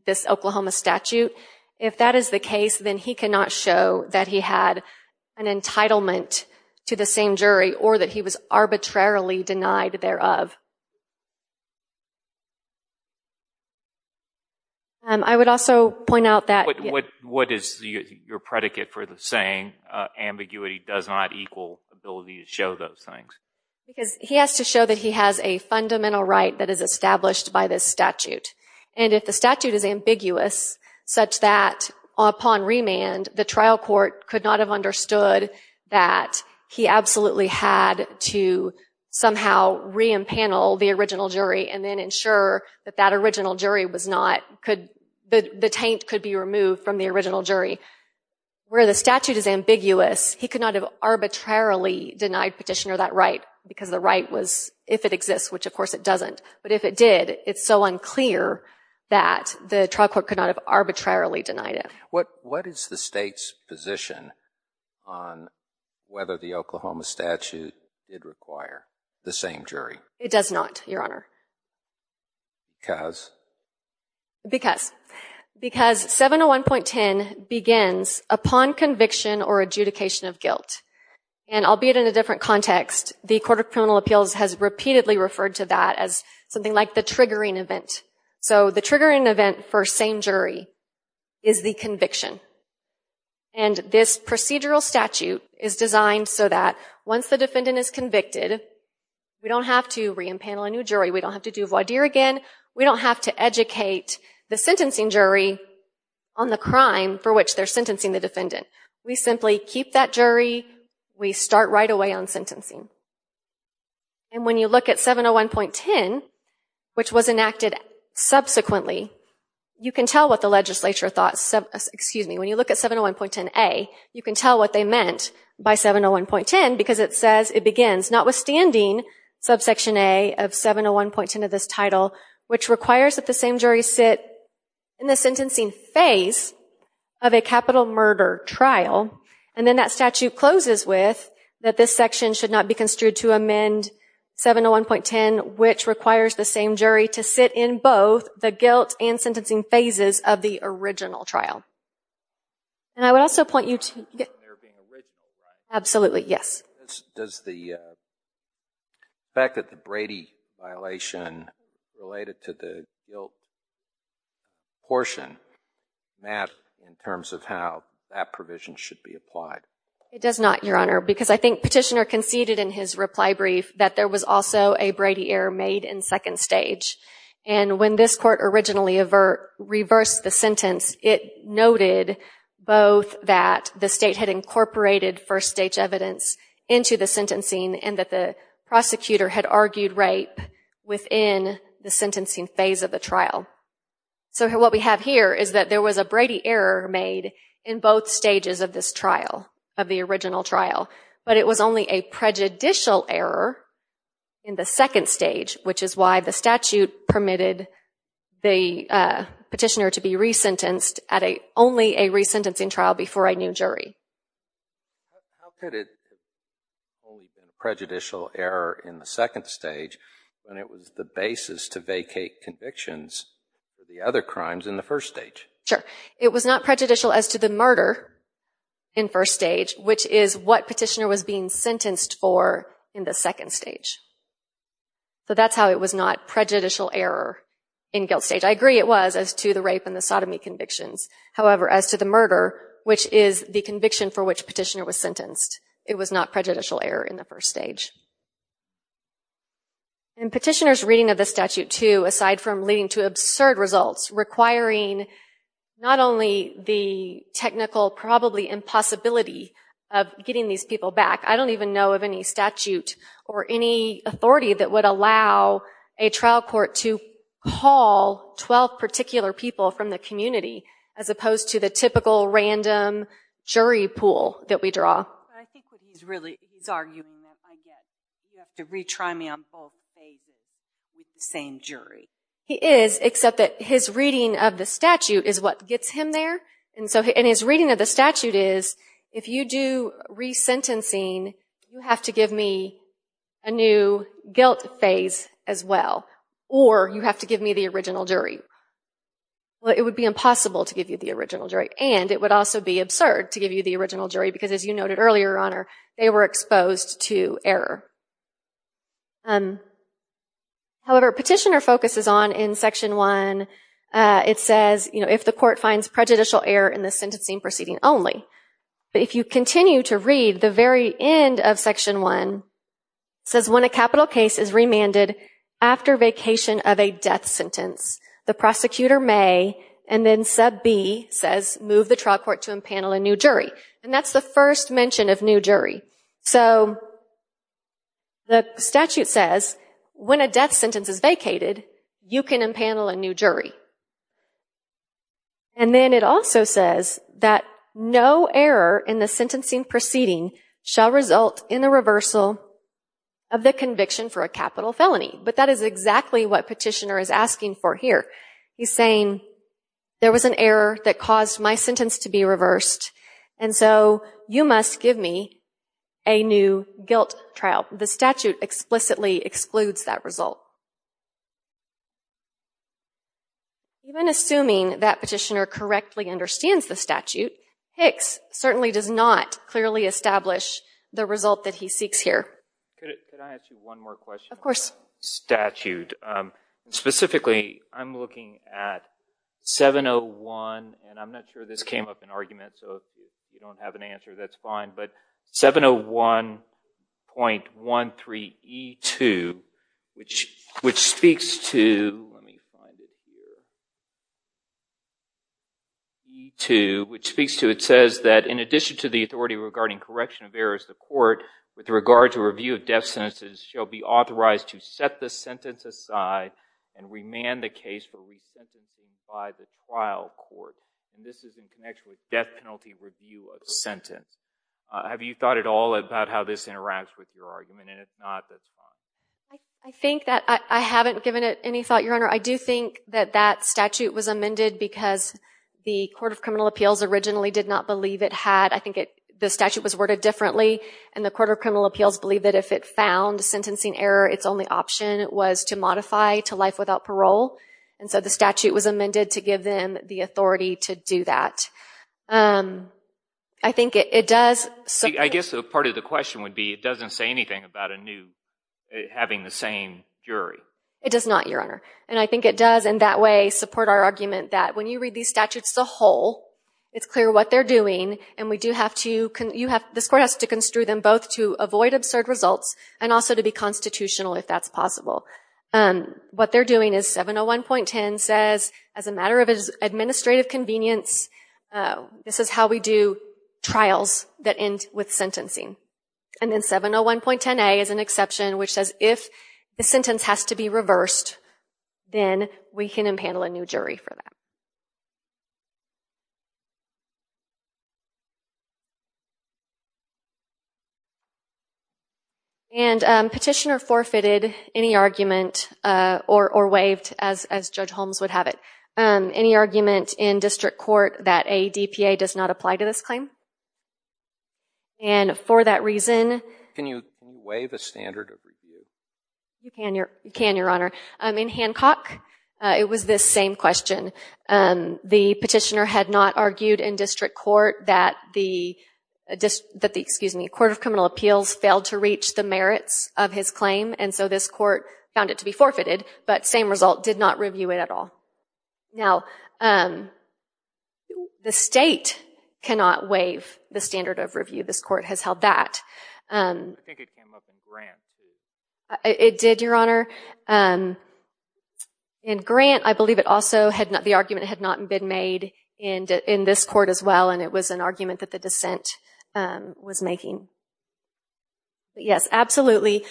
this Oklahoma statute. If that is the case, then he cannot show that he had an entitlement to the same jury or that he was arbitrarily denied thereof. I would also point out that... What is your predicate for the saying, ambiguity does not equal ability to show those things? Because he has to show that he has a fundamental right that is established by this statute, and if the statute is ambiguous such that upon remand, the trial court could not have understood that he absolutely had to somehow re-empanel the original jury and then ensure that that original jury was not... The taint could be removed from the original jury. Where the statute is ambiguous, he could not have arbitrarily denied Petitioner that right because the right was, if it exists, which of course it doesn't, but if it did, it's so unclear that the trial court could not have arbitrarily denied it. What is the state's position on whether the Oklahoma statute did require the same jury? It does not, Your Honor. Because? Because. Because 701.10 begins upon conviction or adjudication of guilt. And albeit in a different context, the Court of Criminal Appeals has repeatedly referred to that as something like the triggering event. So the triggering event for same jury is the conviction. And this procedural statute is designed so that once the defendant is convicted, we don't have to re-empanel a new jury, we don't have to do voir dire again, we don't have to educate the sentencing jury on the crime for which they're sentencing the defendant. We simply keep that jury. We start right away on sentencing. And when you look at 701.10, which was enacted subsequently, you can tell what the legislature thought... Excuse me, when you look at 701.10a, you can tell what they meant by 701.10 because it says it begins notwithstanding subsection a of 701.10 of this title, which requires that the same jury sit in the sentencing phase of a capital murder trial. And then that statute closes with that this section should not be construed to amend 701.10, which requires the same jury to sit in both the guilt and sentencing phases of the original trial. And I would also point you to... Absolutely, yes. Does the fact that the Brady violation related to the guilt portion matter in terms of how that provision should be applied? It does not, Your Honor, because I think Petitioner conceded in his reply brief that there was also a Brady error made in second stage. And when this court originally reversed the sentence, it noted both that the state had incorporated first-stage evidence into the sentencing and that the prosecutor had argued rape within the sentencing phase of the trial. So what we have here is that there was a Brady error made in both stages of this trial, of the original trial, but it was only a prejudicial error in the second stage, which is why the statute permitted the petitioner to be resentenced at only a resentencing trial before I knew jury. How could it have only been a prejudicial error in the second stage when it was the basis to vacate convictions for the other crimes in the first stage? Sure. It was not prejudicial as to the murder in first stage, which is what petitioner was being sentenced for in the second stage. So that's how it was not prejudicial error in guilt stage. I agree it was as to the rape and the sodomy convictions. However, as to the murder, which is the conviction for which petitioner was sentenced, it was not prejudicial error in the first stage. In petitioner's reading of the statute too, aside from leading to absurd results requiring not only the technical, probably impossibility of getting these people back, I don't even know of any statute or any authority that would allow a trial court to call 12 particular people from the community as opposed to the typical random jury pool that we draw. I think what he's really arguing is you have to retry me on both stages with the same jury. He is, except that his reading of the statute is what gets him there. And his reading of the statute is if you do resentencing, you have to give me a new guilt phase as well. Or you have to give me the original jury. Well, it would be impossible to give you the original jury. And it would also be absurd to give you the original jury because, as you noted earlier, Your Honor, they were exposed to error. However, petitioner focuses on, in Section 1, it says if the court finds prejudicial error in the sentencing proceeding only. But if you continue to read, the very end of Section 1 says when a capital case is remanded after vacation of a death sentence, the prosecutor may, and then sub B says, move the trial court to impanel a new jury. And that's the first mention of new jury. So the statute says when a death sentence is vacated, you can impanel a new jury. And then it also says that no error in the sentencing proceeding shall result in the reversal of the conviction for a capital felony. But that is exactly what petitioner is asking for here. He's saying there was an error that caused my sentence to be reversed. And so you must give me a new guilt trial. The statute explicitly excludes that result. Even assuming that petitioner correctly understands the statute, Hicks certainly does not clearly establish the result that he seeks here. Could I ask you one more question? Of course. Statute. Specifically, I'm looking at 701, and I'm not sure this came up in argument, so if you don't have an answer, that's fine. But 701.13E2, which speaks to, let me find it here. E2, which speaks to, it says that in addition to the authority regarding correction of errors, the court, with regard to review of death sentences, shall be authorized to set the sentence aside and remand the case for resentencing by the trial court. And this is in connection with death penalty review of sentence. Have you thought at all about how this interacts with your argument? And if not, that's fine. I think that I haven't given it any thought, Your Honor. I do think that that statute was amended because the Court of Criminal Appeals originally did not believe it had, I think the statute was worded differently, and the Court of Criminal Appeals believed that if it found sentencing error, its only option was to modify to life without parole. And so the statute was amended to give them the authority to do that. I think it does... I guess part of the question would be, it doesn't say anything about a new, having the same jury. It does not, Your Honor. And I think it does, in that way, support our argument that when you read these statutes as a whole, it's clear what they're doing, and we do have to, you have, this court has to construe them both to avoid absurd results, and also to be constitutional if that's possible. What they're doing is 701.10 says, as a matter of administrative convenience, this is how we do trials that end with sentencing. And then 701.10a is an exception, which says if the sentence has to be reversed, then we can impanel a new jury for that. And Petitioner forfeited any argument, or waived, as Judge Holmes would have it, any argument in district court that a DPA does not apply to this claim. And for that reason... Can you waive a standard of review? You can, Your Honor. In Hancock, it was this same question. The petitioner had not argued in district court that the Court of Criminal Appeals failed to reach the merits of his claim, and so this court found it to be forfeited, but same result, did not review it at all. Now, the state cannot waive the standard of review. This court has held that. I think it came up in Grant. It did, Your Honor. In Grant, I believe the argument had not been made in this court as well, and it was an argument that the dissent was making. Yes, absolutely.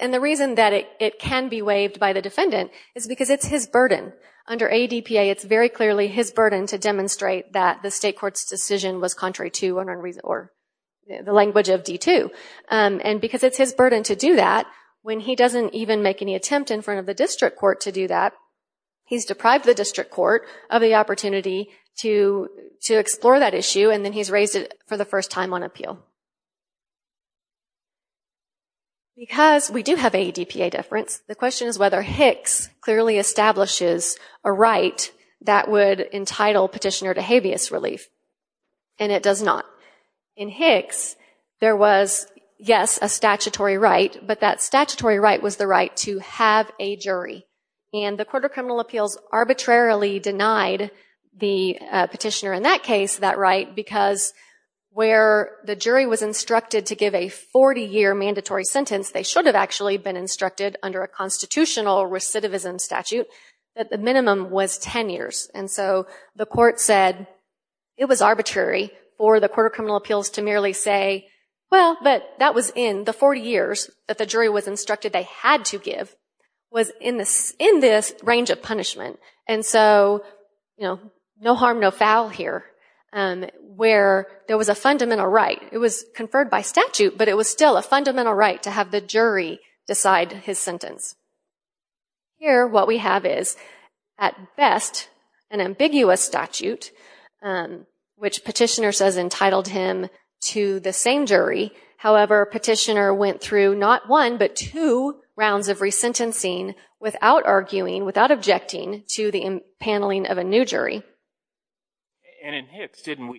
And the reason that it can be waived by the defendant is because it's his burden. Under ADPA, it's very clearly his burden to demonstrate that the state court's decision was contrary to the language of D2. And because it's his burden to do that, when he doesn't even make any attempt in front of the district court to do that, he's deprived the district court of the opportunity to explore that issue, and then he's raised it for the first time on appeal. Because we do have ADPA deference, the question is whether Hicks clearly establishes a right that would entitle petitioner to habeas relief, and it does not. In Hicks, there was, yes, a statutory right, but that statutory right was the right to have a jury. And the Court of Criminal Appeals arbitrarily denied the petitioner in that case that right because where the jury was instructed to give a 40-year mandatory sentence, they should have actually been instructed under a constitutional recidivism statute that the minimum was 10 years. And so the court said it was arbitrary for the Court of Criminal Appeals to merely say, well, but that was in the 40 years that the jury was instructed they had to give, was in this range of punishment. And so, you know, no harm, no foul here, where there was a fundamental right. It was conferred by statute, but it was still a fundamental right to have the jury decide his sentence. Here, what we have is, at best, an ambiguous statute, which petitioner says entitled him to the same jury. However, petitioner went through not one, but two rounds of resentencing without arguing, without objecting to the impaneling of a new jury. And in Hicks, didn't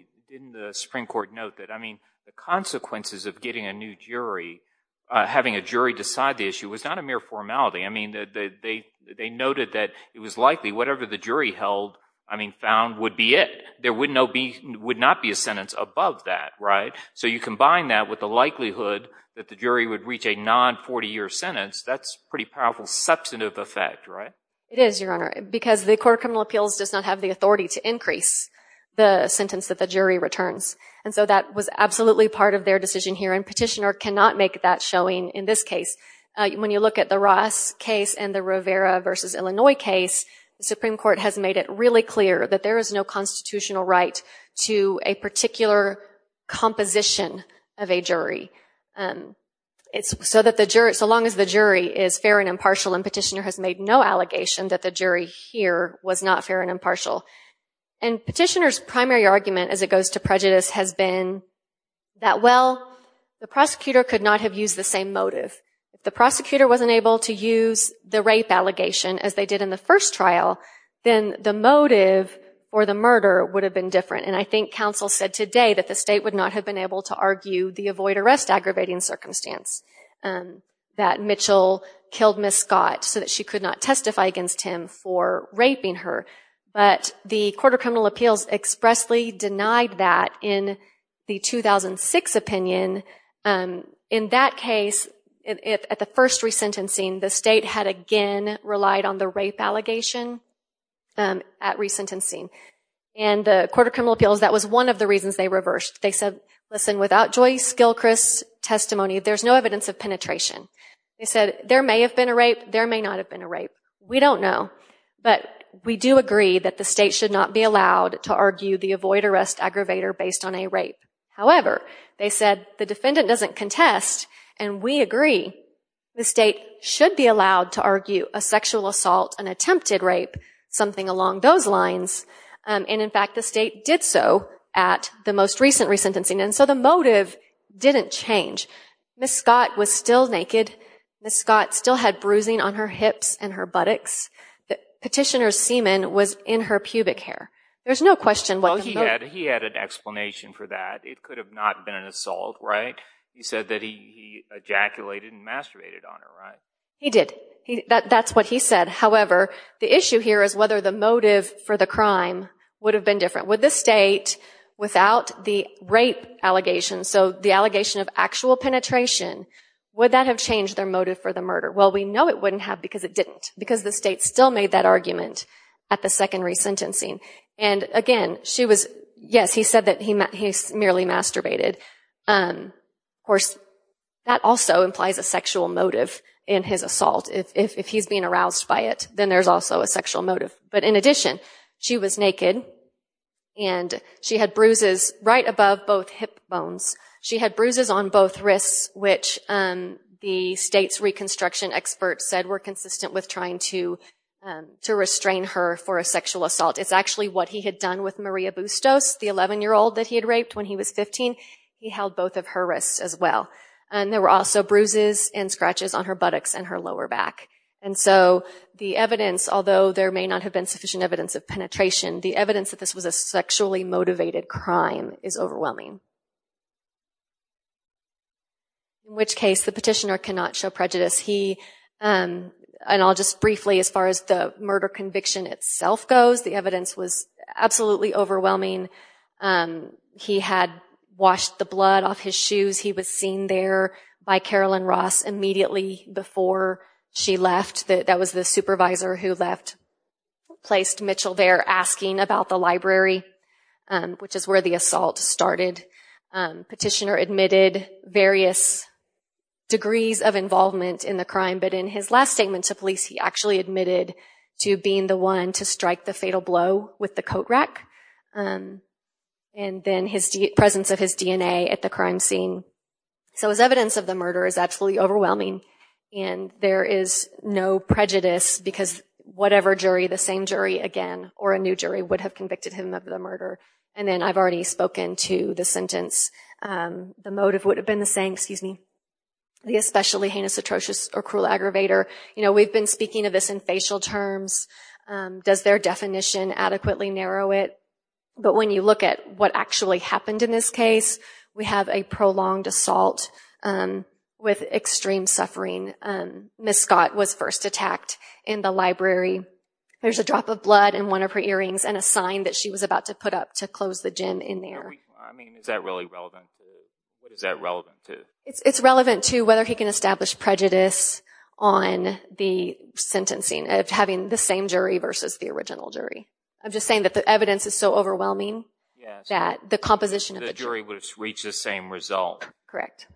the Supreme Court note that, I mean, the consequences of getting a new jury, having a jury decide the issue, was not a mere formality. I mean, they noted that it was likely whatever the jury held, I mean, found, would be it. There would not be a sentence above that, right? So you combine that with the likelihood that the jury would reach a non-40-year sentence, that's pretty powerful substantive effect, right? It is, Your Honor, because the Court of Criminal Appeals does not have the authority to increase the sentence that the jury returns. And so that was absolutely part of their decision here, and petitioner cannot make that showing in this case. When you look at the Ross case and the Rivera v. Illinois case, the Supreme Court has made it really clear that there is no constitutional right to a particular composition of a jury, so long as the jury is fair and impartial, and petitioner has made no allegation that the jury here was not fair and impartial. And petitioner's primary argument, as it goes to prejudice, has been that, well, the prosecutor could not have used the same motive. If the prosecutor wasn't able to use the rape allegation, as they did in the first trial, then the motive for the murder would have been different. And I think counsel said today that the state would not have been able to argue the avoid-arrest aggravating circumstance, that Mitchell killed Miss Scott so that she could not testify against him for raping her. But the Court of Criminal Appeals expressly denied that in the 2006 opinion. In that case, at the first resentencing, the state had again relied on the rape allegation at resentencing. And the Court of Criminal Appeals, that was one of the reasons they reversed. They said, listen, without Joyce Gilchrist's testimony, there's no evidence of penetration. They said there may have been a rape, there may not have been a rape. We don't know, but we do agree that the state should not be allowed to argue the avoid-arrest aggravator based on a rape. However, they said the defendant doesn't contest, and we agree the state should be allowed to argue a sexual assault, an attempted rape, something along those lines. And, in fact, the state did so at the most recent resentencing. And so the motive didn't change. Miss Scott was still naked. Miss Scott still had bruising on her hips and her buttocks. Petitioner's semen was in her pubic hair. There's no question what the motive... Well, he had an explanation for that. It could have not been an assault, right? He said that he ejaculated and masturbated on her, right? He did. That's what he said. However, the issue here is whether the motive for the crime would have been different. Would the state, without the rape allegation, so the allegation of actual penetration, would that have changed their motive for the murder? Well, we know it wouldn't have because it didn't, because the state still made that argument at the second resentencing. And, again, she was... Yes, he said that he merely masturbated. Of course, that also implies a sexual motive in his assault. If he's being aroused by it, then there's also a sexual motive. But, in addition, she was naked, and she had bruises right above both hip bones. She had bruises on both wrists, which the state's reconstruction experts said were consistent with trying to restrain her for a sexual assault. It's actually what he had done with Maria Bustos, the 11-year-old that he had raped when he was 15. He held both of her wrists as well. And there were also bruises and scratches on her buttocks and her lower back. And so the evidence, although there may not have been sufficient evidence of penetration, the evidence that this was a sexually motivated crime is overwhelming. In which case, the petitioner cannot show prejudice. He... And I'll just briefly, as far as the murder conviction itself goes, the evidence was absolutely overwhelming. He had washed the blood off his shoes. He was seen there by Carolyn Ross immediately before she left. That was the supervisor who left... placed Mitchell there asking about the library, which is where the assault started. Petitioner admitted various degrees of involvement in the crime, but in his last statement to police, he actually admitted to being the one to strike the fatal blow with the coat rack. And then his presence of his DNA at the crime scene. So his evidence of the murder is absolutely overwhelming. And there is no prejudice because whatever jury, the same jury again or a new jury, would have convicted him of the murder. And then I've already spoken to the sentence. The motive would have been the same, excuse me, the especially heinous, atrocious or cruel aggravator. You know, we've been speaking of this in facial terms. Does their definition adequately narrow it? But when you look at what actually happened in this case, we have a prolonged assault with extreme suffering. Miss Scott was first attacked in the library. There's a drop of blood in one of her earrings and a sign that she was about to put up to close the gym in there. I mean, is that really relevant? What is that relevant to? It's relevant to whether he can establish prejudice on the sentencing of having the same jury versus the original jury. I'm just saying that the evidence is so overwhelming that the composition of the jury would reach the same result. Correct.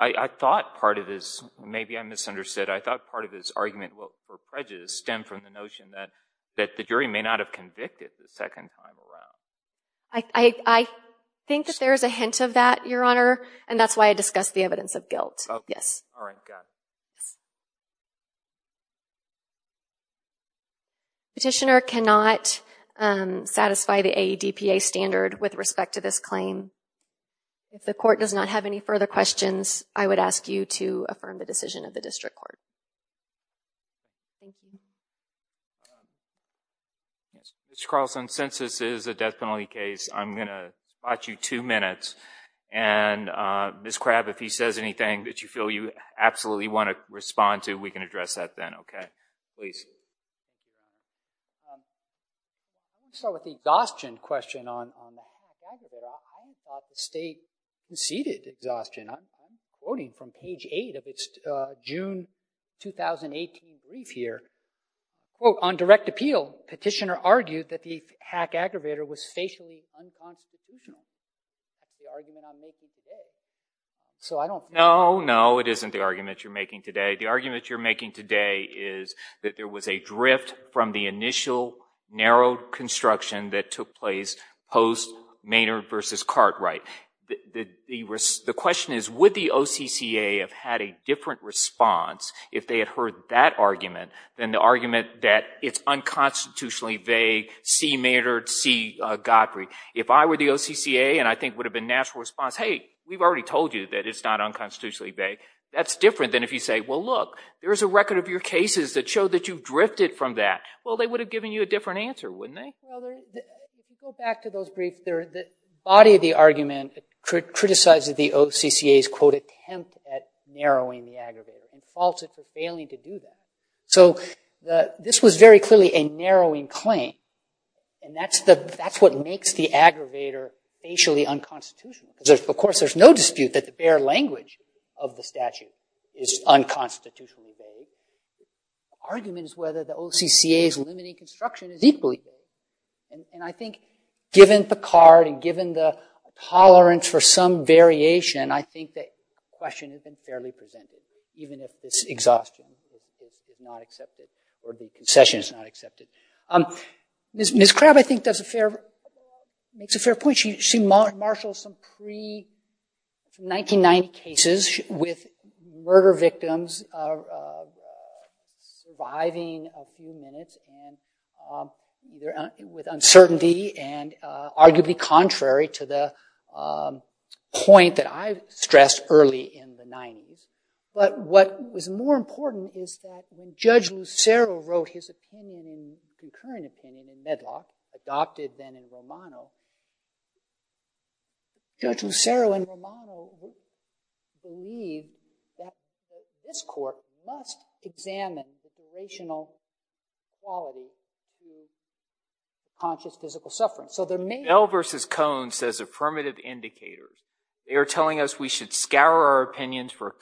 I thought part of this, maybe I misunderstood, I thought part of this argument for prejudice stemmed from the notion that the jury may not have convicted the second time around. I think that there is a hint of that, Your Honor. And that's why I discussed the evidence of guilt. Yes. All right, got it. Petitioner cannot satisfy the AEDPA standard with respect to this claim. If the court does not have any further questions, I would ask you to affirm the decision of the district court. Ms. Carlson, since this is a death penalty case, I'm going to spot you two minutes. And Ms. Crabb, if he says anything that you feel you absolutely want to respond to, we can address that then. OK? Please. I'll start with the exhaustion question on the hack aggravator. I thought the state conceded exhaustion. I'm quoting from page 8 of its June 2018 brief here. Quote, on direct appeal, petitioner argued that the hack aggravator was the argument I'm making today. So I don't know. No, no, it isn't the argument you're making today. The argument you're making today is that there was a drift from the initial narrow construction that took place post Maynard versus Cartwright. The question is, would the OCCA have had a different response if they had heard that argument than the argument that it's unconstitutionally vague, C. Maynard, C. Godfrey? If I were the OCCA and I think it would have been a natural response, hey, we've already told you that it's not unconstitutionally vague. That's different than if you say, well, look, there's a record of your cases that show that you've drifted from that. Well, they would have given you a different answer, wouldn't they? Well, if you go back to those briefs, the body of the argument criticized the OCCA's, quote, attempt at narrowing the aggravator and faulted for failing to do that. So this was very clearly a narrowing claim. And that's what makes the aggravator facially unconstitutional. Because of course, there's no dispute that the bare language of the statute is unconstitutionally vague. The argument is whether the OCCA's limiting construction is equally vague. And I think given the card and given the tolerance for some variation, I think the question has been fairly presented, even if this exhaustion is not accepted or the concession is not accepted. Ms. Crabb, I think, makes a fair point. She marshals some pre-1990 cases with murder victims surviving a few minutes with uncertainty and arguably contrary to the point that I stressed early in the 90s. But what was more important is that when Judge Lucero wrote his opinion and concurrent opinion in Medlock, adopted then in Romano, Judge Lucero in Romano believed that this court must examine the durational quality of conscious physical suffering. So there may be. Bell versus Cohn says affirmative indicators. They are telling us we should scour our opinions for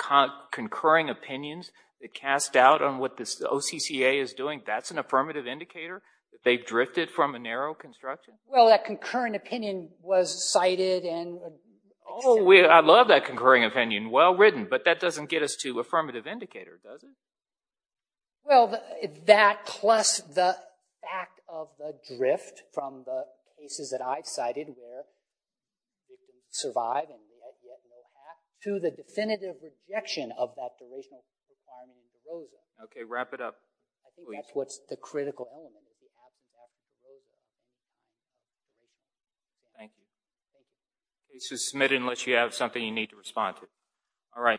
concurring opinions that cast doubt on what the OCCA is doing. That's an affirmative indicator? They've drifted from a narrow construction? Well, that concurrent opinion was cited and accepted. Oh, I love that concurring opinion. Well written. But that doesn't get us to affirmative indicators, does it? Well, that plus the fact of the drift from the cases that I've cited where they didn't survive and there was yet no act to the definitive rejection of that durational construction. OK, wrap it up. I think that's what's the critical element. Thank you. Please just submit it unless you have something you need to respond to. All right.